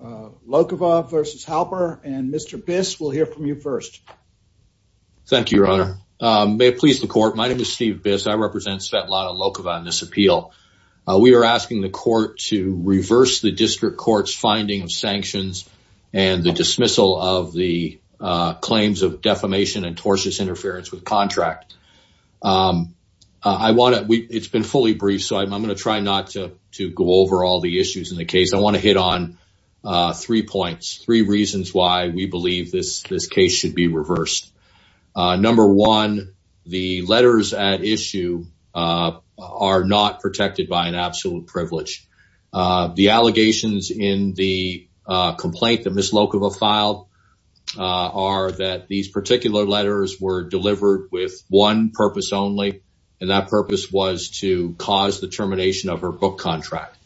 Lokhova versus Halper and Mr. Biss will hear from you first. Thank you, Your Honor. May it please the court. My name is Steve Biss. I represent Svetlana Lokhova in this appeal. We are asking the court to reverse the district court's finding of sanctions and the dismissal of the claims of defamation and tortious interference with contract. It's been fully briefed, so I'm going to try not to go over all the issues in the case. I want to get on three points, three reasons why we believe this case should be reversed. Number one, the letters at issue are not protected by an absolute privilege. The allegations in the complaint that Ms. Lokhova filed are that these particular letters were delivered with one purpose only, and that purpose was to cause the termination of her book contract.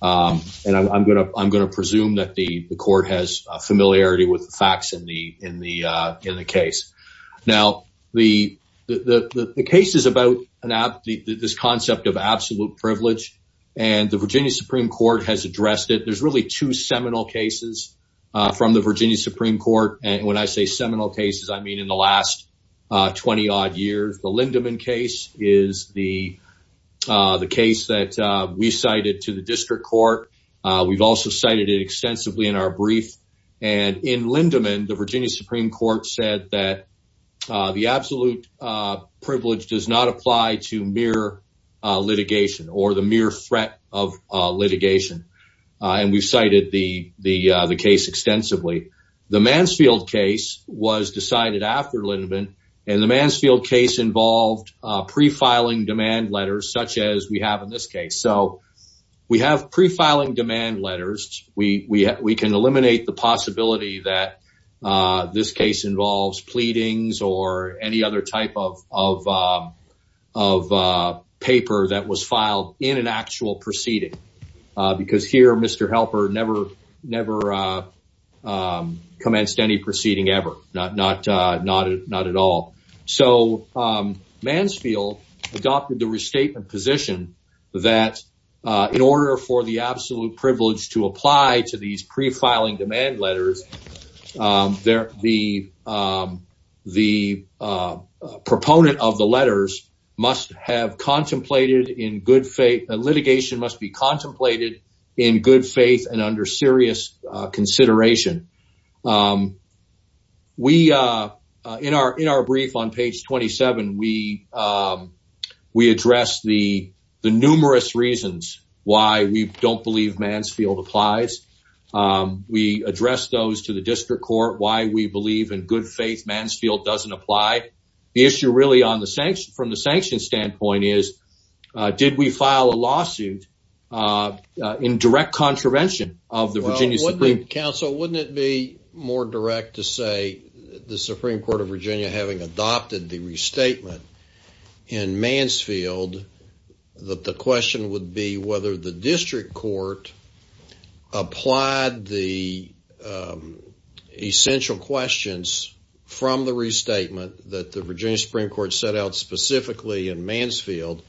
And I'm going to presume that the court has familiarity with the facts in the case. Now, the case is about this concept of absolute privilege, and the Virginia Supreme Court has addressed it. There's really two seminal cases from the Virginia Supreme Court, and when I say seminal cases, I mean in the last 20-odd years. The Lindeman case is the case that we cited to district court. We've also cited it extensively in our brief. And in Lindeman, the Virginia Supreme Court said that the absolute privilege does not apply to mere litigation or the mere threat of litigation, and we've cited the case extensively. The Mansfield case was decided after Lindeman, and the Mansfield case involved pre-filing demand letters, such as we have in this case. So we have pre-filing demand letters. We can eliminate the possibility that this case involves pleadings or any other type of paper that was filed in an actual proceeding, because here Mr. Helper never commenced any proceeding ever, not at all. So Mansfield adopted the that in order for the absolute privilege to apply to these pre-filing demand letters, the proponent of the letters must have contemplated in good faith, the litigation must be contemplated in good faith and under serious consideration. In our brief on page 27, we address the numerous reasons why we don't believe Mansfield applies. We address those to the district court, why we believe in good faith Mansfield doesn't apply. The issue really from the sanction standpoint is, did we file a lawsuit in direct contravention of the Virginia Supreme Court? Counsel, wouldn't it be more direct to say the Supreme Court of Virginia having adopted the restatement in Mansfield, that the question would be whether the district court applied the essential questions from the restatement that the Virginia Supreme Court set out specifically in restatement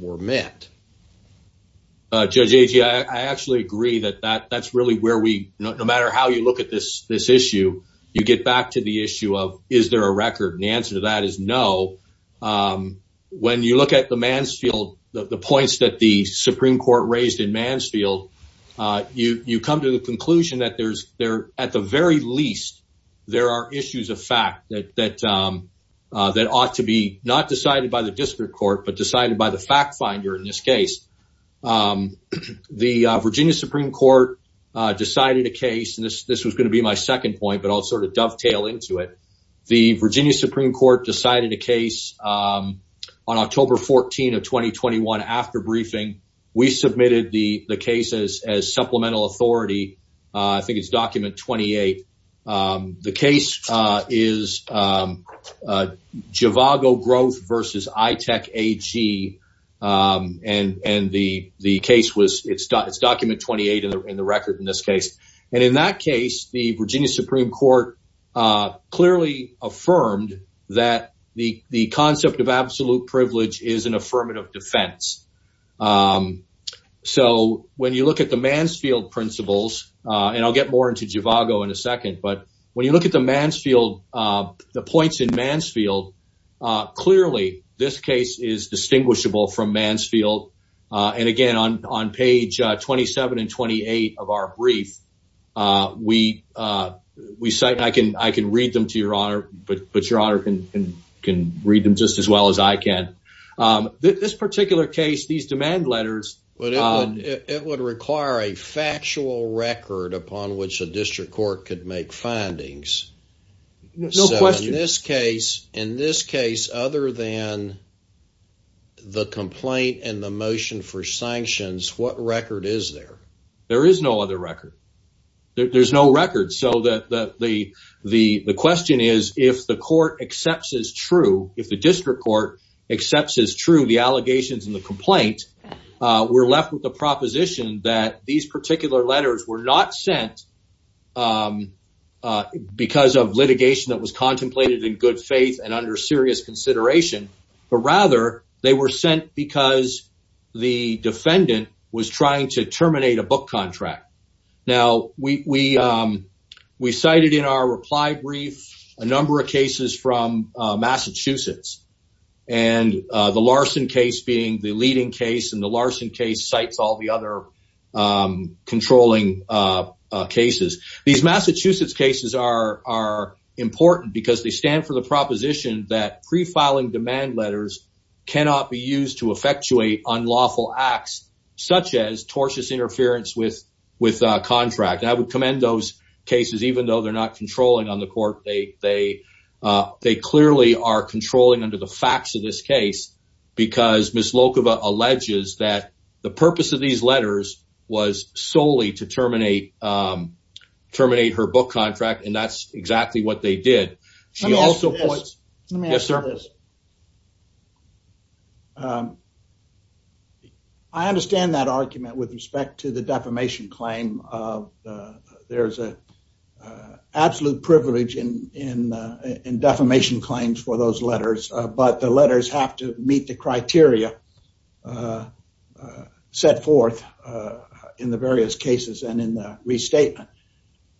were met? Judge Agee, I actually agree that that's really where we, no matter how you look at this issue, you get back to the issue of, is there a record? And the answer to that is no. When you look at the Mansfield, the points that the Supreme Court raised in Mansfield, you come to the conclusion that there's, at the very least, there are issues of fact that ought to be not decided by the district court, but decided by the fact finder in this case. The Virginia Supreme Court decided a case, and this was going to be my second point, but I'll sort of dovetail into it. The Virginia Supreme Court decided a case on October 14 of 2021 after briefing. We submitted the cases as supplemental authority. I think it's document 28. The case is Javago Growth versus iTech AG, and the case was, it's document 28 in the record in this case. And in that case, the Virginia Supreme Court clearly affirmed that the concept of absolute privilege is an affirmative defense. So when you look at the Mansfield principles, and I'll get more into Javago in a second, but when you look at the Mansfield, the points in Mansfield, clearly this case is distinguishable from Mansfield. And again, on page 27 and 28 of our brief, we cite, and I can read them to your honor, but your honor can read them just as well as I can. This particular case, these demand letters- But it would require a factual record upon which a district court could make findings. No question. So in this case, other than the complaint and the motion for sanctions, what record is there? There is no other record. There's no record. So the question is, if the court accepts as true, if the district court accepts as true the allegations in the complaint, we're left with the proposition that these particular letters were not sent because of litigation that was contemplated in good faith and under serious consideration, but rather they were sent because the defendant was trying to terminate a book contract. Now, we cited in our reply brief a number of cases from Massachusetts, and the Larson case being the leading case, and the Larson case cites all the other controlling cases. These Massachusetts cases are important because they stand for the proposition that prefiling demand letters cannot be used to effectuate unlawful acts, such as tortious interference with a contract. I would commend those cases, even though they're not controlling on the court. They clearly are controlling under the facts of this case because Ms. Lokova alleges that the purpose of these letters was solely to terminate her book contract, and that's exactly what they did. Let me ask you this. Yes, sir. I understand that argument with respect to the defamation claim. There's an absolute privilege in defamation claims for those letters, but the letters have to meet the criteria set forth in the various cases and in the restatement.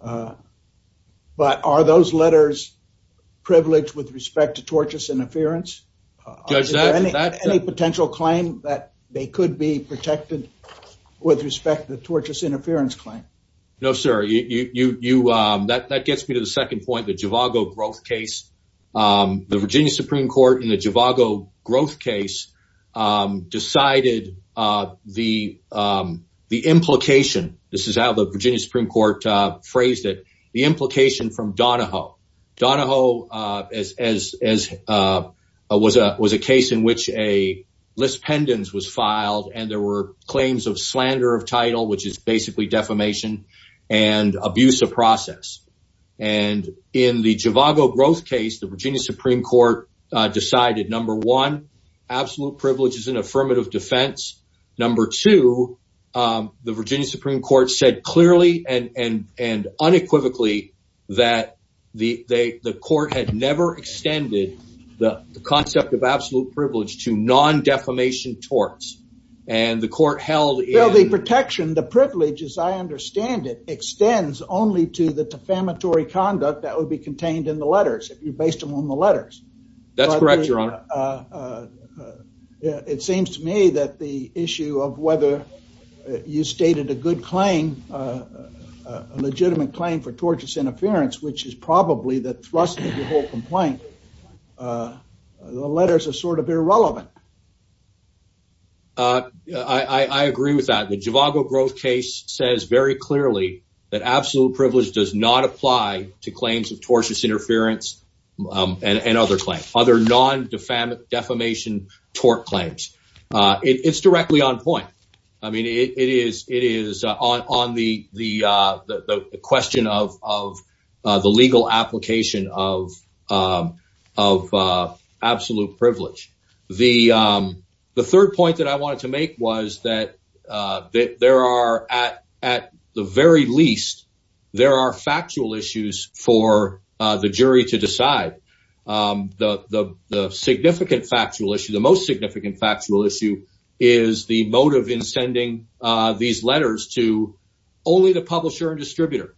But are those letters privileged with respect to tortious interference? Judge, is there any potential claim that they could be protected with respect to the tortious interference claim? No, sir. That gets me to the second point, the Javago growth case. The Virginia Supreme Court in the Javago growth case decided the implication, this is how the Virginia Supreme Court phrased it, the implication from Donahoe. Donahoe was a case in which a list pendens was filed and there were claims of slander of title, which is basically defamation and abuse of process. In the Javago growth case, the Virginia Supreme Court decided, number one, absolute privilege is an affirmative defense. Number two, the Virginia Supreme Court said clearly and unequivocally that the court had never extended the concept of absolute privilege to non-defamation torts and the court held... Well, the protection, the privilege, as I understand it, extends only to the defamatory conduct that would be contained in the letters if you based them on the letters. That's correct, your honor. Yeah, it seems to me that the issue of whether you stated a good claim, a legitimate claim for tortious interference, which is probably the thrust of the whole complaint, the letters are sort of irrelevant. I agree with that. The Javago growth case says very clearly that absolute privilege does not defamation tort claims. It's directly on point. I mean, it is on the question of the legal application of absolute privilege. The third point that I wanted to make was that at the very least, there are factual issues for the jury to decide. The significant factual issue, the most significant factual issue is the motive in sending these letters to only the publisher and distributor.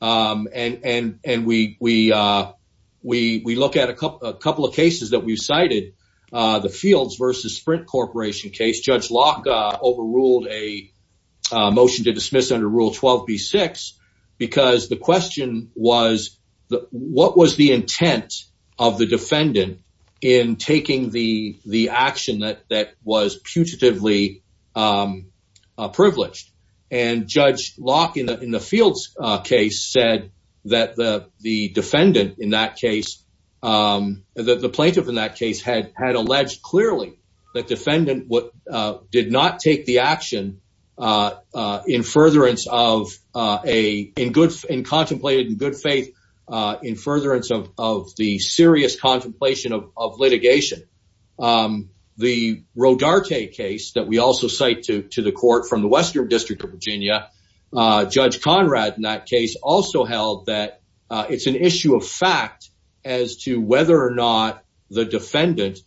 And we look at a couple of cases that we've cited, the Fields versus Sprint Corporation case. Judge Locke overruled a motion to dismiss under Rule 12B6 because the question was, what was the intent of the defendant in taking the action that was putatively privileged? And Judge Locke in the Fields case said that the defendant in that case, the plaintiff in that case had alleged clearly that defendant did not take the action in contemplated in good faith, in furtherance of the serious contemplation of litigation. The Rodarte case that we also cite to the court from the Western District of Virginia, Judge Conrad in that case also held that it's an issue of fact as to whether or not the defendant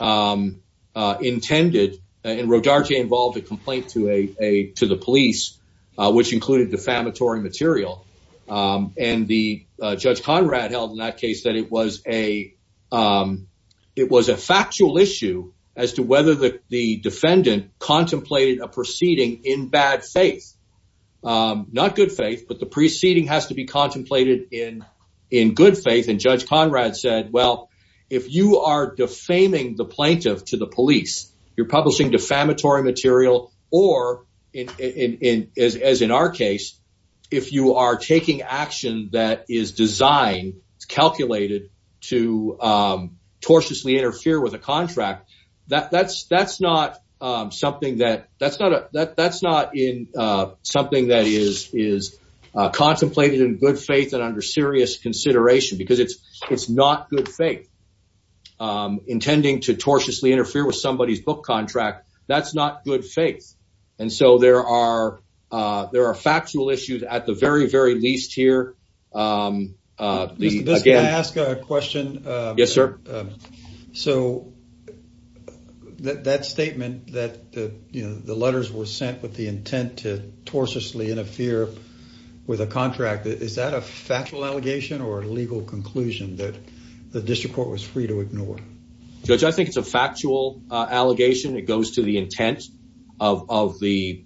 intended, and Rodarte involved a complaint to the police, which included defamatory material. And Judge Conrad held in that case that it was a factual issue as to whether the defendant contemplated a proceeding in bad faith. Not good faith, but the proceeding has to be contemplated in good faith. And Judge Conrad said, well, if you are defaming the plaintiff to the police, you're publishing defamatory material, or as in our case, if you are taking action that is designed, calculated to tortiously interfere with a contract, that's not something that is contemplated in good faith and under serious consideration, because it's not good faith. Intending to tortiously interfere with somebody's book contract, that's not good faith. And so, there are factual issues at the very, very least here. Mr. Biskoff, can I ask a question? Yes, sir. So, that statement that the letters were sent with the intent to tortuously interfere with a contract, is that a factual allegation or a legal conclusion that the district court was free to ignore? Judge, I think it's a factual allegation. It goes to the intent of the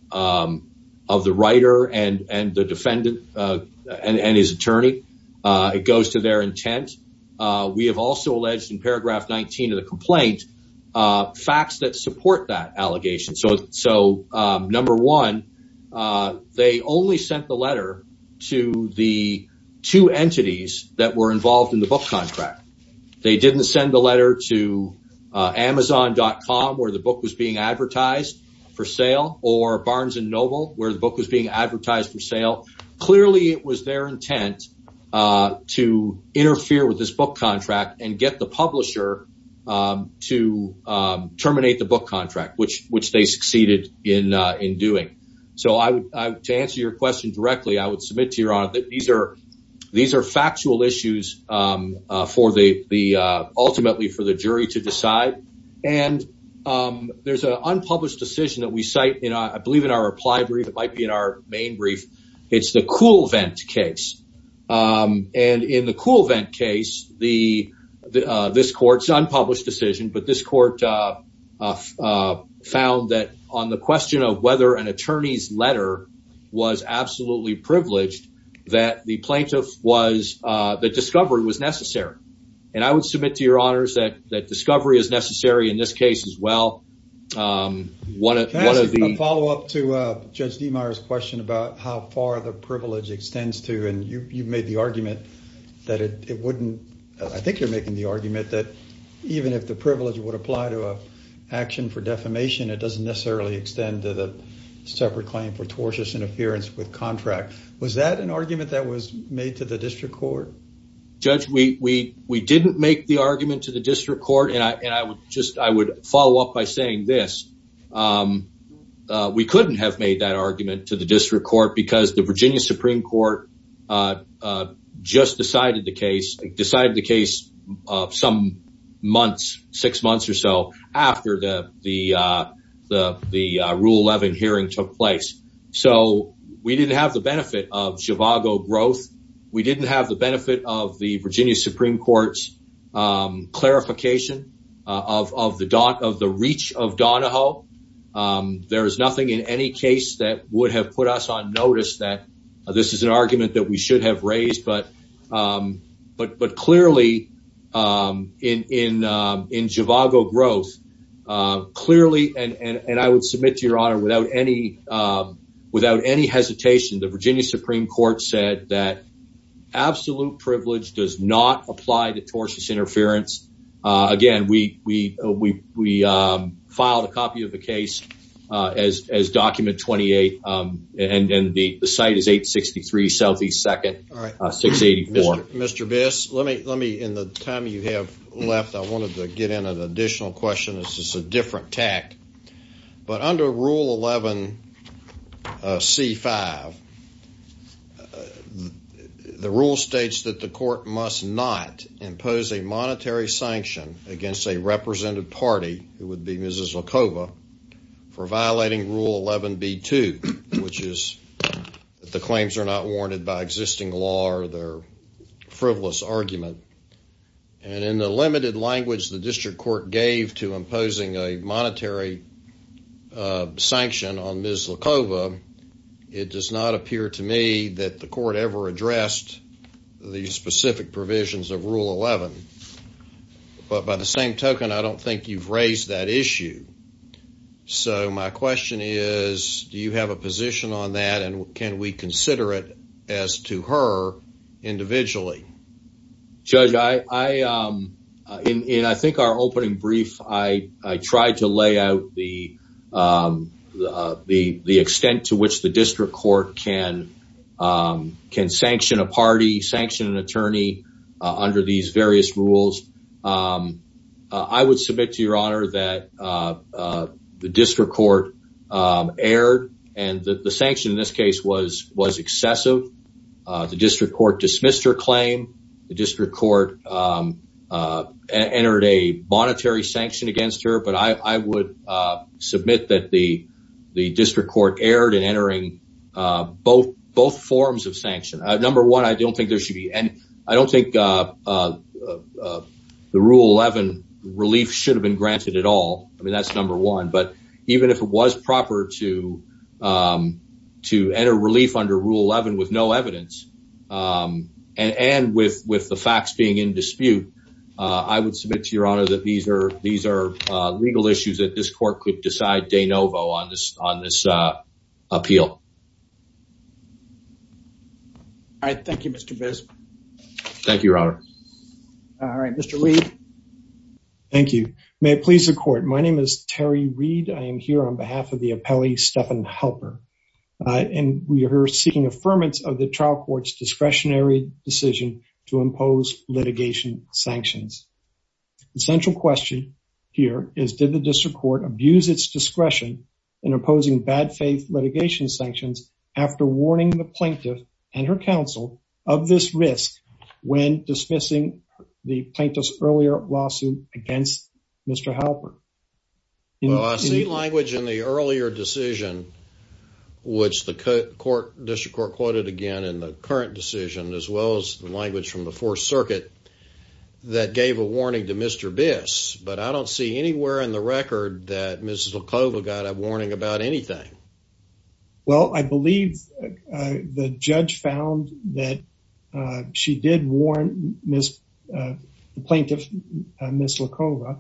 writer and the defendant and his attorney. It goes to their intent. We have also alleged in paragraph 19 of the complaint, facts that support that allegation. So, number one, they only sent the letter to the two entities that were involved in the book contract. They didn't send the letter to amazon.com, where the book was being advertised for sale, or Barnes and Noble, where the book was being advertised for sale. Clearly, it was their intent to interfere with this book contract and get the publisher to terminate the book contract, which they succeeded in doing. So, to answer your question directly, I would submit to your honor that these are factual issues ultimately for the jury to decide. And there's an unpublished decision that we cite, I believe in our reply brief, it might be in our main brief. It's the and in the Cool Vent case, this court's unpublished decision, but this court found that on the question of whether an attorney's letter was absolutely privileged, that the plaintiff was, that discovery was necessary. And I would submit to your honors that that discovery is necessary in this case as well. Can I ask a follow up to Judge DeMeier's about how far the privilege extends to, and you made the argument that it wouldn't, I think you're making the argument that even if the privilege would apply to a action for defamation, it doesn't necessarily extend to the separate claim for tortious interference with contract. Was that an argument that was made to the district court? Judge, we didn't make the argument to the district court, and I would just, I would follow up by saying this. We couldn't have made that argument to the district court because the Virginia Supreme Court just decided the case, decided the case some months, six months or so after the Rule 11 hearing took place. So we didn't have the benefit of Zhivago growth. We didn't have the benefit of the Virginia Supreme Court's verification of the reach of Donahoe. There is nothing in any case that would have put us on notice that this is an argument that we should have raised. But clearly, in Zhivago growth, clearly, and I would submit to your honor, without any hesitation, the Virginia Supreme Court said that absolute privilege does not apply to tortious interference. Again, we filed a copy of the case as document 28, and the site is 863 Southeast 2nd, 684. Mr. Biss, let me, in the time you have left, I wanted to get in an additional question. It's just a different tact. But under Rule 11, C5, the rule states that the court must not impose a monetary sanction against a represented party, who would be Mrs. Zlakova, for violating Rule 11, B2, which is that the claims are not warranted by existing law or their frivolous argument. And in the limited language the sanction on Mrs. Zlakova, it does not appear to me that the court ever addressed the specific provisions of Rule 11. But by the same token, I don't think you've raised that issue. So my question is, do you have a position on that? And can we consider it as to her individually? Judge, in I think our opening brief, I tried to lay out the extent to which the district court can sanction a party, sanction an attorney, under these various rules. I would submit to your honor that the district court erred, and that the sanction in this case was excessive. The district court dismissed her claim. The district court entered a monetary sanction against her. But I would submit that the district court erred in entering both forms of sanction. Number one, I don't think there should be, and I don't think the Rule 11 relief should have been granted at all. I mean, that's number one. But even if it was proper to enter relief under Rule 11 with no evidence, and with the facts being in dispute, I would submit to your honor that these are legal issues that this court could decide de novo on this appeal. All right. Thank you, Mr. Bisbee. Thank you, your honor. All right. Mr. Lee. Thank you. May it please the court. My name is Terry Reed. I am here on behalf of the appellee, Stephan Halper. And we are here seeking affirmance of the trial court's discretionary decision to impose litigation sanctions. The central question here is, did the district court abuse its discretion in opposing bad faith litigation sanctions after warning the plaintiff and her counsel of this risk when dismissing the plaintiff's earlier lawsuit against Mr. Halper? Well, I see language in the earlier decision, which the district court quoted again in the current decision, as well as the language from the Fourth Circuit, that gave a warning to Mr. Bis, but I don't see anywhere in the record that Mrs. LaClova got a warning about anything. Well, I believe the judge found that she did warn Ms., the plaintiff, Ms. LaClova.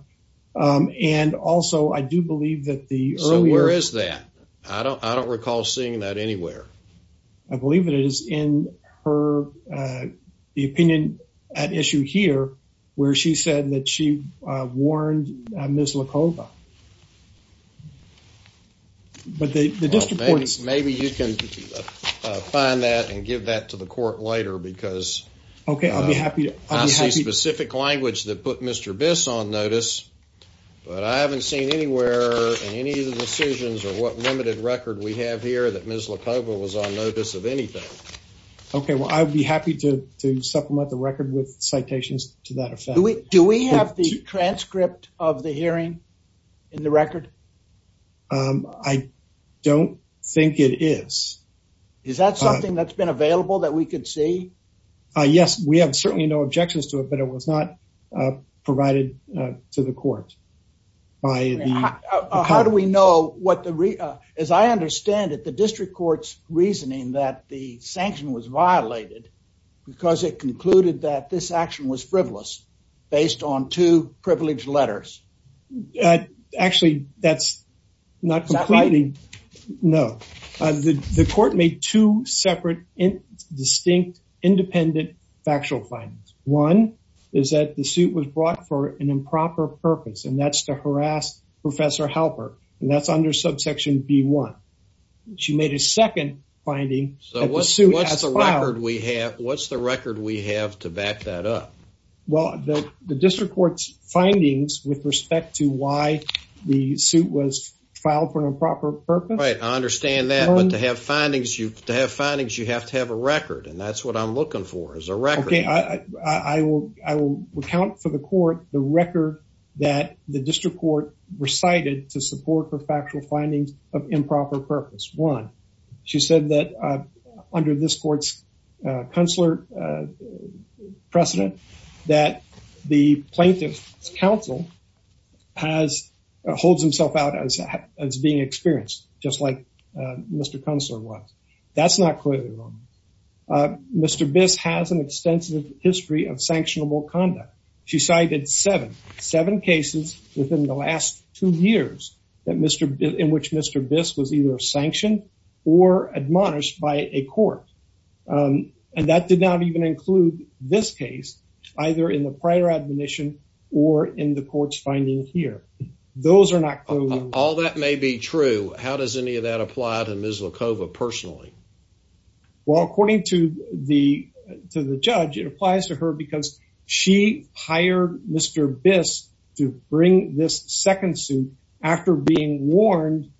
And also, I do believe that the earlier... So where is that? I don't recall seeing that anywhere. I believe it is in her, the opinion at issue here, where she said that she warned Ms. LaClova. But the district court is... Well, maybe you can find that and give that to the court later because I see specific language that put Mr. Bis on notice, but I haven't seen anywhere in any of the decisions or what limited record we have here that Ms. LaClova was on notice of anything. Okay. Well, I'd be happy to supplement the record with citations to that effect. Do we have the transcript of the hearing in the record? I don't think it is. Is that something that's been available that we could see? Yes, we have certainly no objections to it, but it was not provided to the court by the... How do we know what the... As I understand it, the district court's reasoning that the sanction was violated because it concluded that this action was frivolous based on two privileged letters. Actually, that's not completely... No. The court made two separate, distinct, independent factual findings. One is that the suit was brought for an improper purpose, and that's to harass Professor Halper, and that's under subsection B1. She made a second finding... So what's the record we have to back that up? Well, the district court's findings with respect to why the suit was filed for an improper purpose... Right. I understand that, but to have findings, you have to have a record, and that's what I'm looking for, is a record. Okay. I will account for the court the record that the district court recited to support her factual findings of improper purpose. One, she said that under this court's consular precedent that the plaintiff's counsel holds himself out as being experienced, just like Mr. Consular was. That's not clearly wrong. Mr. Biss has an extensive history of sanctionable conduct. She cited seven cases within the last two years in which Mr. Biss was either sanctioned or admonished by a court, and that did not even include this case, either in the prior admonition or in the court's finding here. Those are not clearly... All that may be true. How does any of that apply to Ms. Lakova personally? Well, according to the judge, it applies to her because she hired Mr. Biss to bring this second suit after being warned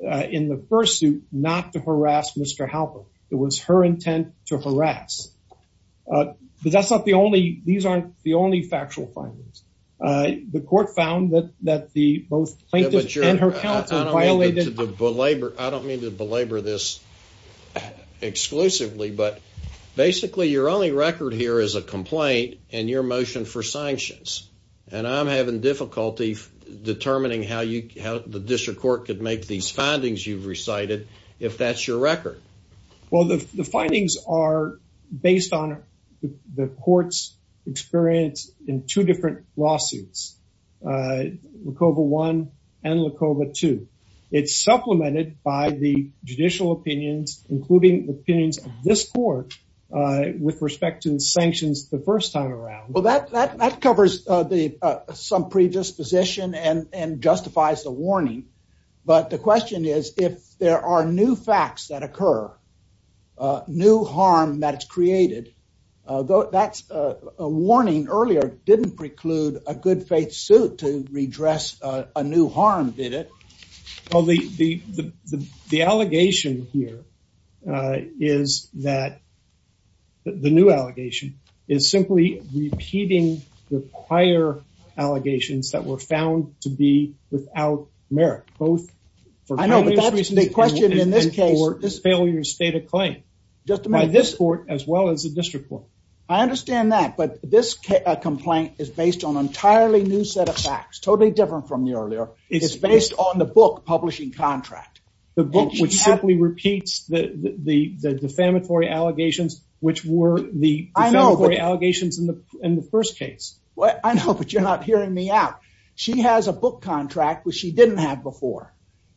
in the first suit not to harass Mr. Halper. It was her intent to harass. But that's not the only... These aren't the only factual findings. The court found that both the plaintiff and her counsel violated... I don't mean to belabor this exclusively, but basically, your only record here is a complaint and your motion for sanctions, and I'm having difficulty determining how the district court could make these findings you've recited, if that's your record. Well, the findings are based on the court's experience in two different lawsuits, Lakova I and Lakova II. It's supplemented by the judicial opinions, including the opinions of this court with respect to sanctions the first time around. Well, that covers some predisposition and justifies the warning. But the question is, if there are new facts that occur, new harm that's created, that warning earlier didn't preclude a good faith suit to redress a new harm, did it? Well, the allegation here is that the new allegation is simply repeating the prior allegations that were found to be without merit, both for... I know, but that's the question in this case. ...failure to state a claim by this court as well as the district court. I understand that, but this complaint is based on an entirely new set of facts, totally different from the earlier. It's based on the book publishing contract. The book which simply repeats the defamatory allegations, which were the defamatory allegations in the first case. Well, I know, but you're not hearing me out. She has a book contract which she didn't have before,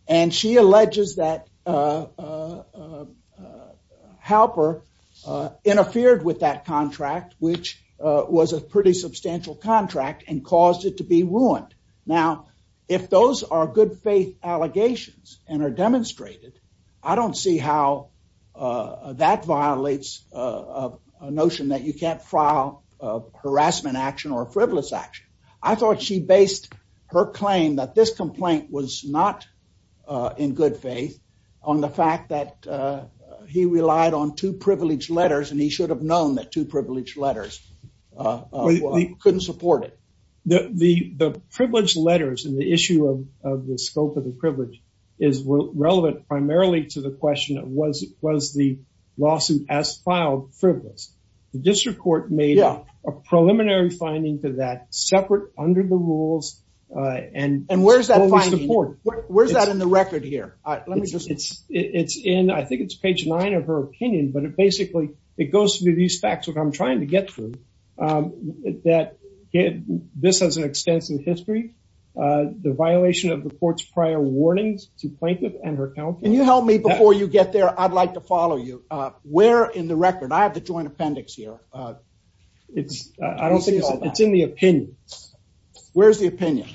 and she alleges that Halper interfered with that contract, which was a pretty substantial contract and caused it to be ruined. Now, if those are good faith allegations and are demonstrated, I don't see how that violates a notion that you can't file a harassment action or a frivolous action. I thought she based her claim that this complaint was not in good faith on the fact that he relied on two privileged letters and he should have known that two privileged letters couldn't support it. The privileged letters and the issue of the scope of the privilege is relevant primarily to the question of was the lawsuit as filed frivolous. The district court made a preliminary finding to that separate under the rules. And where's that finding? Where's that in the record here? I think it's page nine of her opinion, but it basically, it goes through these facts, trying to get through that this has an extensive history, the violation of the court's prior warnings to plaintiff and her counsel. Can you help me before you get there? I'd like to follow you. Where in the record? I have the joint appendix here. It's, I don't think it's in the opinion. Where's the opinion?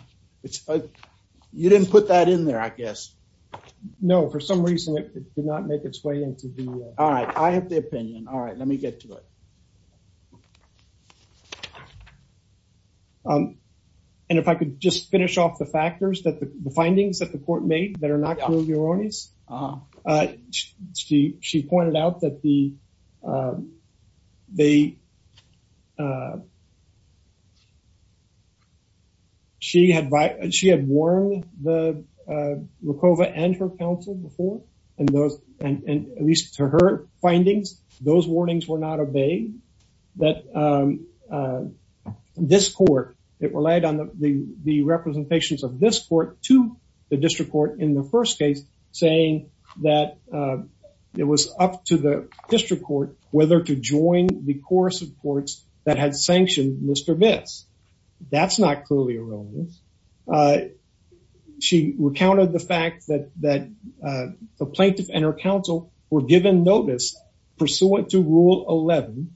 You didn't put that in there, I guess. No, for some reason, it did not make its way into the. All right. I have the opinion. All right. Let me get to it. All right. And if I could just finish off the factors that the findings that the court made that are not clearly erroneous. She, she pointed out that the, they, she had, she had warned the that this court, it relied on the representations of this court to the district court in the first case saying that it was up to the district court whether to join the course of courts that had sanctioned Mr. Bitts. That's not clearly erroneous. She recounted the fact that, that pursuant to rule 11.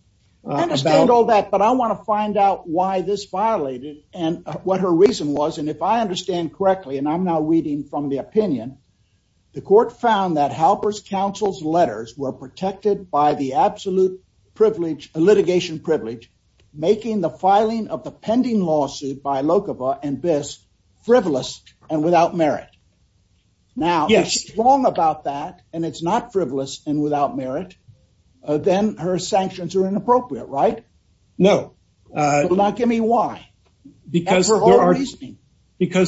I understand all that, but I want to find out why this violated and what her reason was. And if I understand correctly, and I'm now reading from the opinion, the court found that Halper's counsel's letters were protected by the absolute privilege, litigation privilege, making the filing of the pending lawsuit by Lokova and Bitts frivolous and without merit. Now, if she's wrong about that, and it's not frivolous and without merit, then her sanctions are inappropriate, right? No. Now, give me why. Because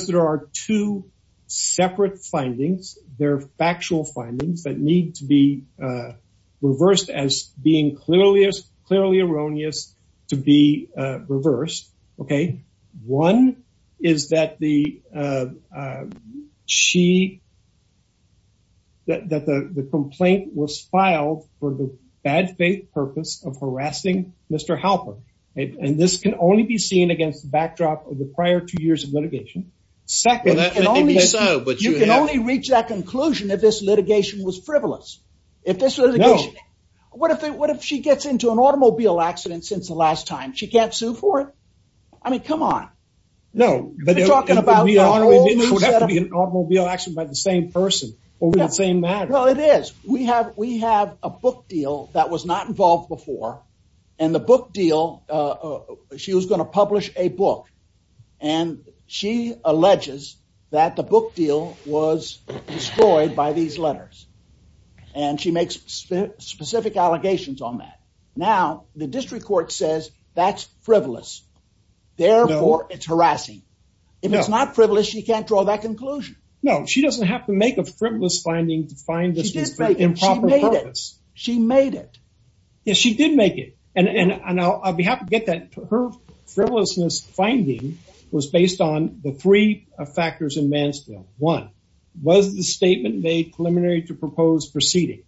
there are two separate findings. They're factual findings that need to be reversed as being clearly, erroneous to be reversed. Okay. One is that the complaint was filed for the bad faith purpose of harassing Mr. Halper. And this can only be seen against the backdrop of the prior two years of litigation. Second, you can only reach that conclusion if this litigation was frivolous. If this litigation... No. What if she gets into an automobile accident since the last time? She can't sue for it? I mean, come on. No, but... You're talking about an automobile accident by the same person, over the same matter. Well, it is. We have a book deal that was not involved before. And the book deal, she was going to publish a book. And she alleges that the book deal was destroyed by these letters. And she makes specific allegations on that. Now, the district court says that's frivolous. Therefore, it's harassing. If it's not frivolous, she can't draw that conclusion. No, she doesn't have to make a frivolous finding to find this was for improper purpose. She made it. Yes, she did make it. And I'll be happy to get that. Her frivolousness was based on the three factors in Mansfield. One, was the statement made preliminary to proposed proceeding?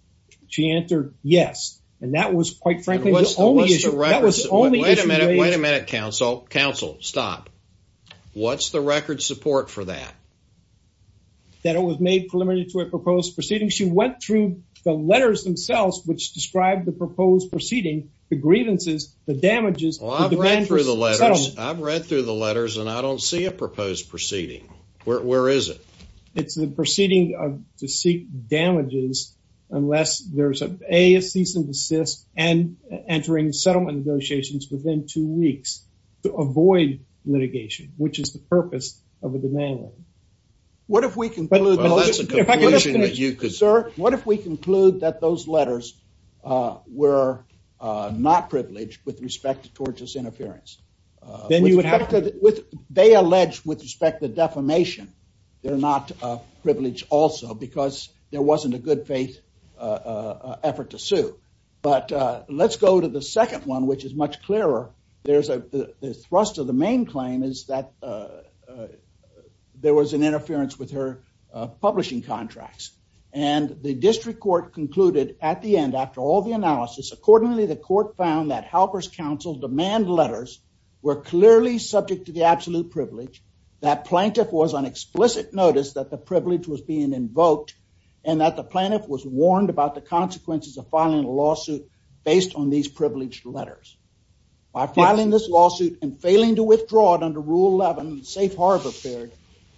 She answered yes. And that was quite frankly... Wait a minute. Wait a minute, counsel. Counsel, stop. What's the record support for that? That it was made preliminary to a proposed proceeding. She went through the letters themselves, which described the proposed proceeding, the grievances, the damages... Well, I've read through the letters. I've read through the letters and I don't see a proposed proceeding. Where is it? It's the proceeding to seek damages unless there's a cease and desist and entering settlement negotiations within two weeks to avoid litigation, which is the purpose of a demand letter. What if we conclude... Well, that's a conclusion that you could... Sir, what if we conclude that those letters were not privileged with respect to tortuous interference? Then you would have... They allege with respect to defamation, they're not privileged also because there wasn't a good faith effort to sue. But let's go to the second one, which is much clearer. There's a thrust of the main claim is that there was an interference with her publishing contracts. And the district court concluded at the end, after all the analysis, accordingly, the court found that helper's counsel demand letters were clearly subject to the absolute privilege, that plaintiff was on explicit notice that the privilege was being invoked and that the plaintiff was warned about the consequences of filing a lawsuit based on these privileged letters. By filing this lawsuit and failing to withdraw it under rule 11, safe harbor period,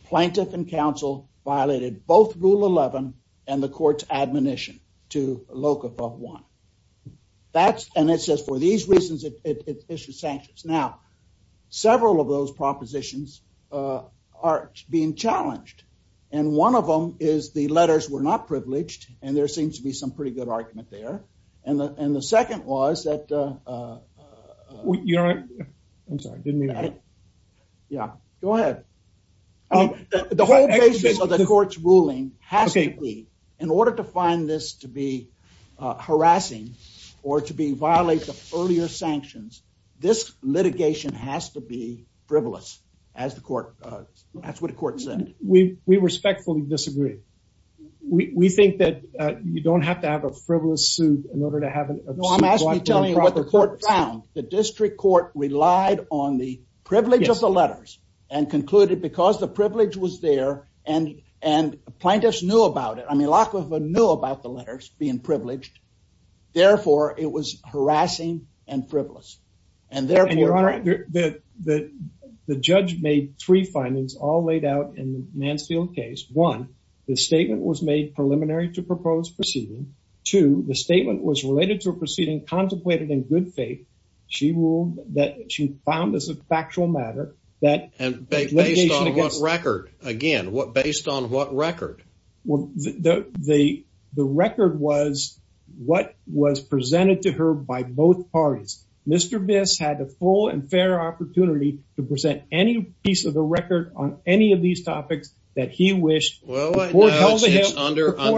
plaintiff and counsel violated both rule 11 and the court's admonition to locum of one. And it says for these reasons, it issues sanctions. Now, several of those propositions are being challenged. And one of them is the letters were not privileged. And there seems to be some pretty good argument there. And the second was that, uh, you know, I'm sorry. Yeah, go ahead. The whole basis of the court's ruling has to be in order to find this to be harassing or to be violated earlier sanctions. This litigation has to be frivolous as the court. That's what the court said. We respectfully disagree. We think that you don't have to have a frivolous suit in order to have an I'm asking you tell you what the court found. The district court relied on the privilege of the letters and concluded because the privilege was there and and plaintiffs knew about it. I mean, lack of a knew about the letters being privileged. Therefore, it was harassing and frivolous. And therefore, the judge made three to propose proceeding to the statement was related to a proceeding contemplated in good faith. She ruled that she found this a factual matter that and based on what record again? What? Based on what record? Well, the record was what was presented to her by both parties. Mr Miss had a full and fair opportunity to present any piece of the record on any of these topics that he wished well, under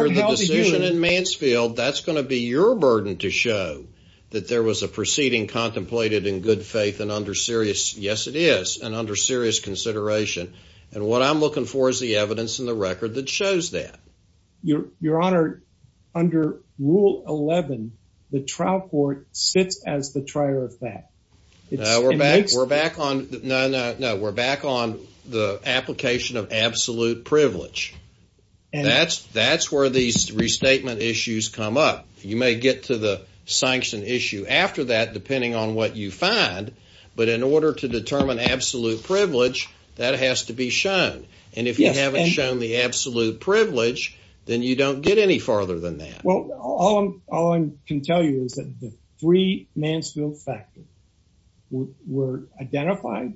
the decision in Mansfield, that's going to be your burden to show that there was a proceeding contemplated in good faith and under serious. Yes, it is. And under serious consideration and what I'm looking for is the evidence in the record that shows that your honor under rule 11, the trial court sits as the trier of that. We're back. We're back on. No, no, no. We're back on the application of absolute privilege. And that's that's where these restatement issues come up. You may get to the sanction issue after that, depending on what you find. But in order to determine absolute privilege, that has to be shown. And if you haven't shown the absolute privilege, then you don't get any farther than that. Well, all I can tell you is that the three Mansfield factors were identified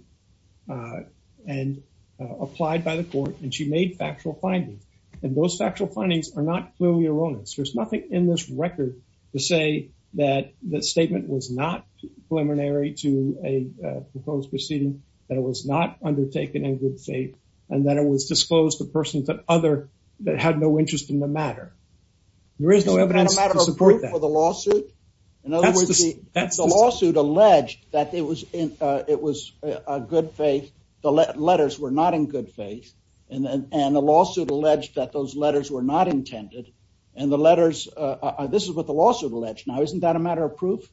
and applied by the court, and she made factual findings. And those factual findings are not clearly erroneous. There's nothing in this record to say that the statement was not preliminary to a proposed proceeding, that it was not undertaken in good faith, and that it was disclosed to persons that other that had no interest in the matter. There is no evidence to support that. Is that a matter of proof for the lawsuit? In other words, the lawsuit alleged that it was a good faith. The letters were not in good faith. And the lawsuit alleged that those letters were not intended. And the letters, this is what the lawsuit alleged. Now, isn't that a matter of proof?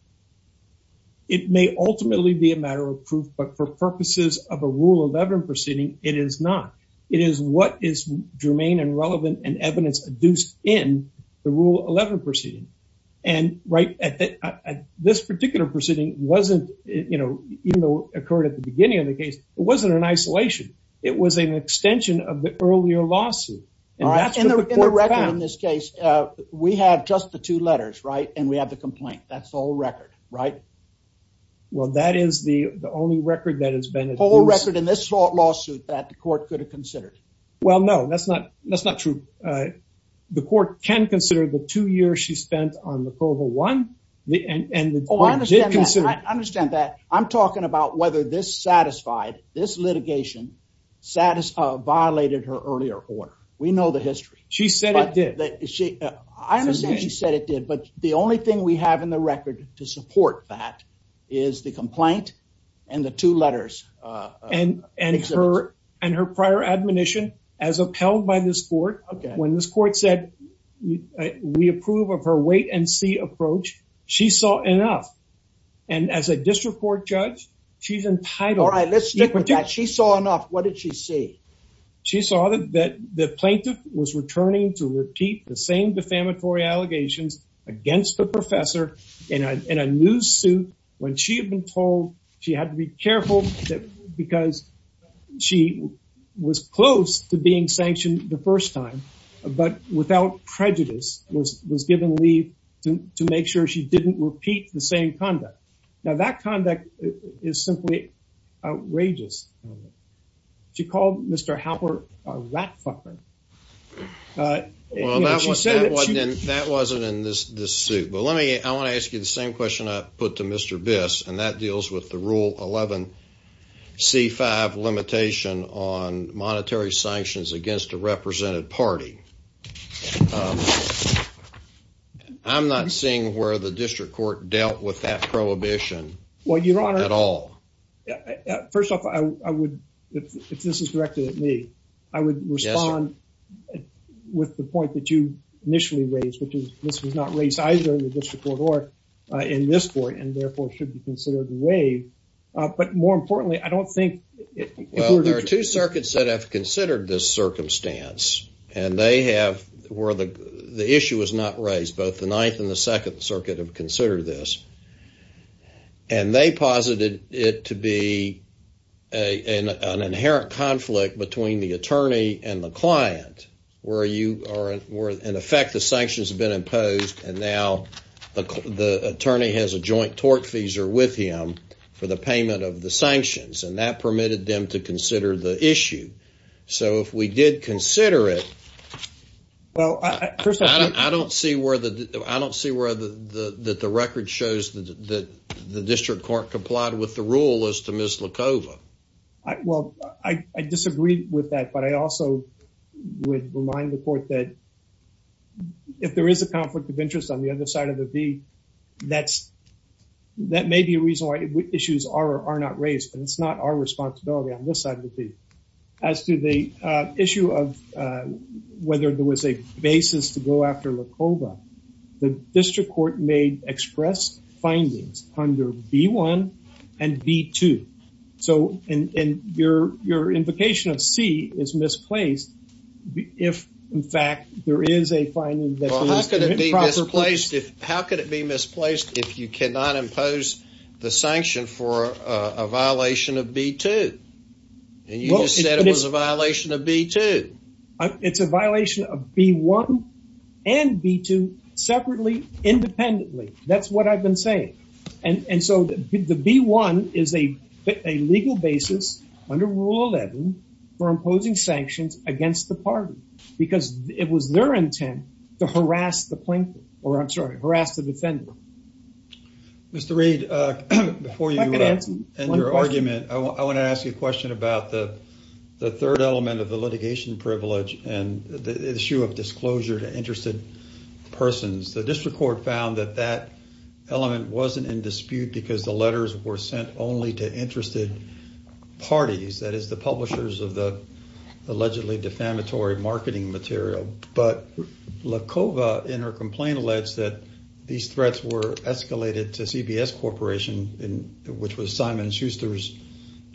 It may ultimately be a matter of proof, but for purposes of a rule 11 proceeding, it is not. It is what is germane and relevant and adduced in the rule 11 proceeding. And right at this particular proceeding wasn't, you know, even though it occurred at the beginning of the case, it wasn't an isolation. It was an extension of the earlier lawsuit. In this case, we have just the two letters, right? And we have the complaint. That's all record, right? Well, that is the only record that has been a whole record in this lawsuit that the court could have considered. Well, no, that's not true. The court can consider the two years she spent on the Provo One. I understand that. I'm talking about whether this satisfied, this litigation violated her earlier order. We know the history. She said it did. I understand she said it did, but the only thing we have in the record to support that is the complaint and the two letters. And her prior admonition as upheld by this court, when this court said we approve of her wait and see approach, she saw enough. And as a district court judge, she's entitled. All right, let's stick with that. She saw enough. What did she see? She saw that the plaintiff was returning to repeat the same defamatory allegations against the professor in a news suit when she had been told she had to be careful because she was close to being sanctioned the first time, but without prejudice was given leave to make sure she didn't repeat the same conduct. Now, that conduct is simply outrageous. She called Mr. Halpern a rat fucker. That wasn't in this suit. But let me, I want to ask you the same question I put to Mr. Biss, and that deals with the Rule 11 C5 limitation on monetary sanctions against a represented party. I'm not seeing where the district court dealt with that prohibition at all. First off, I would, if this is directed at me, I would respond with the point that you initially raised, which is this was not raised either in the district court or in this court, and therefore should be considered a waive. But more importantly, I don't think... Well, there are two circuits that have considered this circumstance, and they have, where the issue was not raised, both the Ninth and the Second Circuit have considered this. And they posited it to be an inherent conflict between the attorney and the client, where you are, in effect, the sanctions have been imposed, and now the attorney has a joint tortfeasor with him for the payment of the sanctions, and that permitted them to consider the issue. So if we did consider it... Well, first off... I don't see where the, that the record shows that the district court complied with the rule as to Ms. Lacova. Well, I disagree with that, but I also would remind the court that if there is a conflict of interest on the other side of the V, that's, that may be a reason why issues are not raised, and it's not our responsibility on this side of the V. As to the issue of whether there was a basis to go after Lacova, the district court made expressed findings under B-1 and B-2. So, and your, your invocation of C is misplaced if, in fact, there is a finding that... Well, how could it be misplaced if, how could it be misplaced if you cannot impose the sanction for a violation of B-2? And you just said it was a violation of B-2. It's a violation of B-1 and B-2 separately, independently. That's what I've been saying. And so the B-1 is a legal basis under Rule 11 for imposing sanctions against the party, because it was their intent to harass the plaintiff, or I'm sorry, harass the defendant. Mr. Reed, before you end your argument, I want to ask you a question about the third element of the litigation privilege and the issue of disclosure to interested persons. The district court found that that element wasn't in dispute because the letters were sent only to interested parties, that is the publishers of the allegedly defamatory marketing material. But Lacova, in her complaint, alleged that these threats were escalated to CBS Corporation, which was Simon and Schuster's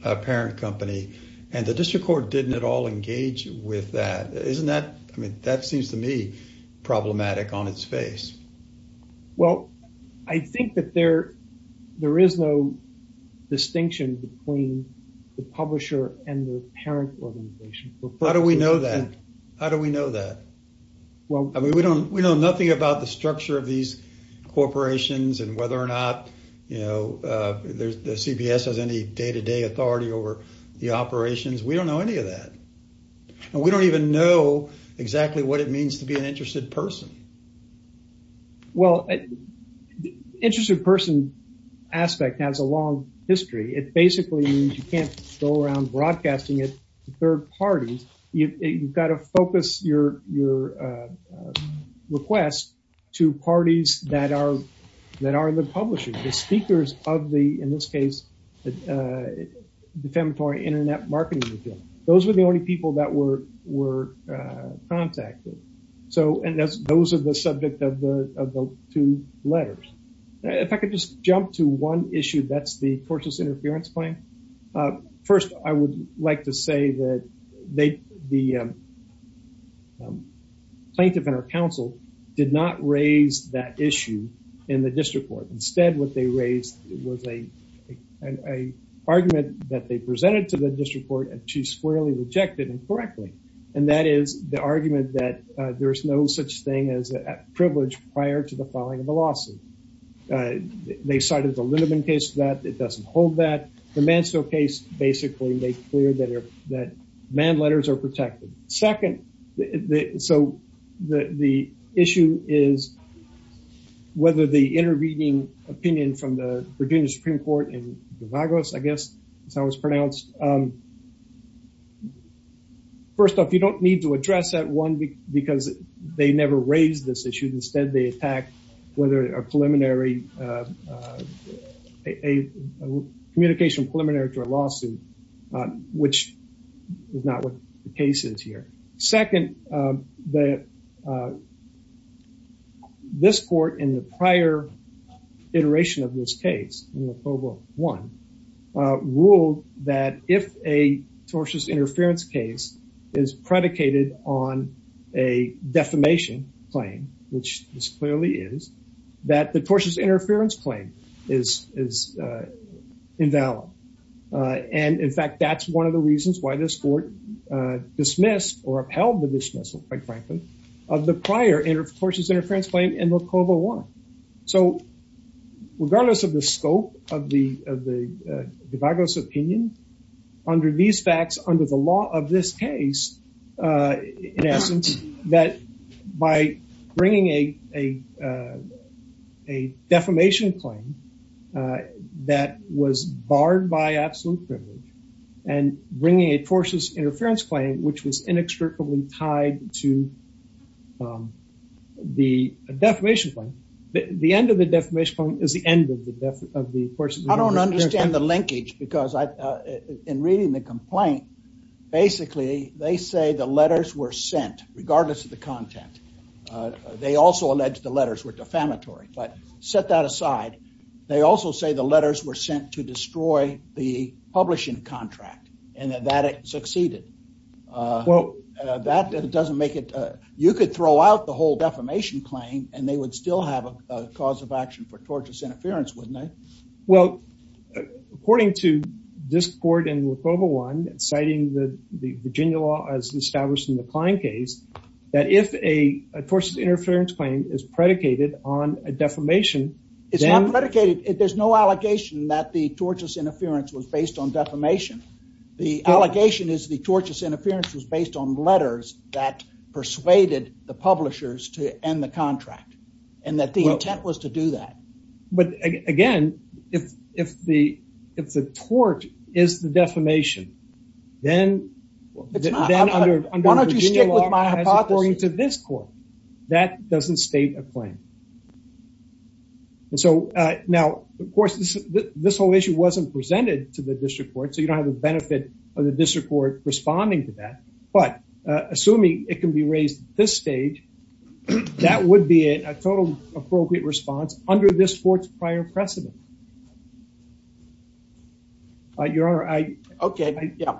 parent company. And the district court didn't at all engage with that. Isn't that, I mean, that seems to me problematic on its face. Well, I think that there is no distinction between the publisher and the parent organization. How do we know that? How do we know that? I mean, we know nothing about the structure of these corporations and whether or not the CBS has any day-to-day authority over the operations. We don't know any of that. And we don't even know exactly what it means to be an interested person. Well, the interested person aspect has a long history. It basically means you can't go around broadcasting it to third parties. You've got to focus your request to parties that are the publishers, the speakers of the, in this case, the defamatory internet marketing material. Those were the only people that were contacted. So, and those are the subject of the two letters. If I could just jump to one issue, that's the tortious interference claim. First, I would like to say that the plaintiff and her counsel did not raise that issue in the district court. Instead, what they raised was an argument that they presented to the district court and she squarely rejected incorrectly. And that is the argument that there's no such thing as a privilege prior to the filing of the lawsuit. They cited the Lindemann case for that. It doesn't hold that. The Manso case basically made clear that man letters are protected. Second, so the issue is whether the intervening opinion from the Virginia Supreme Court and the VAGOS, I guess, is how it's pronounced. First off, you don't need to address that one because they never raised this issue. Instead, they attacked whether a preliminary, a communication preliminary to a lawsuit, which is not what the case is here. Second, this court in the prior iteration of this case, in October 1, ruled that if a tortious interference case is predicated on a defamation, which this clearly is, that the tortious interference claim is invalid. And in fact, that's one of the reasons why this court dismissed or upheld the dismissal, quite frankly, of the prior tortious interference claim in October 1. So regardless of the scope of the VAGOS opinion, under these facts, under the law of this case, in essence, that by bringing a defamation claim that was barred by absolute privilege and bringing a tortious interference claim, which was inextricably tied to the defamation claim, the end of the defamation claim is the of the portion. I don't understand the linkage because in reading the complaint, basically, they say the letters were sent regardless of the content. They also allege the letters were defamatory. But set that aside, they also say the letters were sent to destroy the publishing contract and that it succeeded. Well, that doesn't make it, you could throw out the whole defamation claim and they would still have a cause of action for tortious interference, wouldn't they? Well, according to this court in Locova 1, citing the Virginia law as established in the Klein case, that if a tortious interference claim is predicated on a defamation... It's not predicated. There's no allegation that the tortious interference was based on defamation. The allegation is the tortious interference was based on letters that persuaded the publishers to end the contract and that the intent was to do that. But again, if the tort is the defamation, then... Why don't you stick with my hypothesis? According to this court, that doesn't state a claim. And so, now, of course, this whole issue wasn't presented to the district court, so you don't have the benefit of the district court responding to that. But assuming it can be raised at this stage, that would be a totally appropriate response under this court's prior precedent. Your Honor, I... Okay, yeah.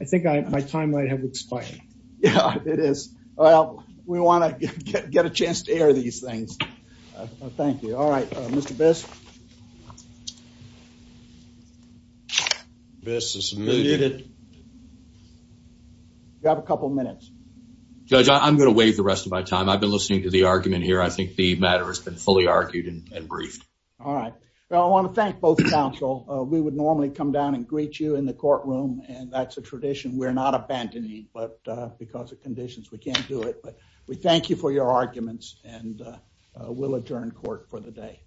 I think my time might have expired. Yeah, it is. Well, we want to get a chance to air these things. Thank you. All right, Mr. Best. Best is muted. You have a couple of minutes. Judge, I'm going to waive the rest of my time. I've been listening to the argument here. I think the matter has been fully argued and briefed. All right. Well, I want to thank both counsel. We would normally come down and greet you in the courtroom, and that's a tradition we're not abandoning, but because of conditions, we can't do it. But we thank you for your arguments, and we'll adjourn court for the day.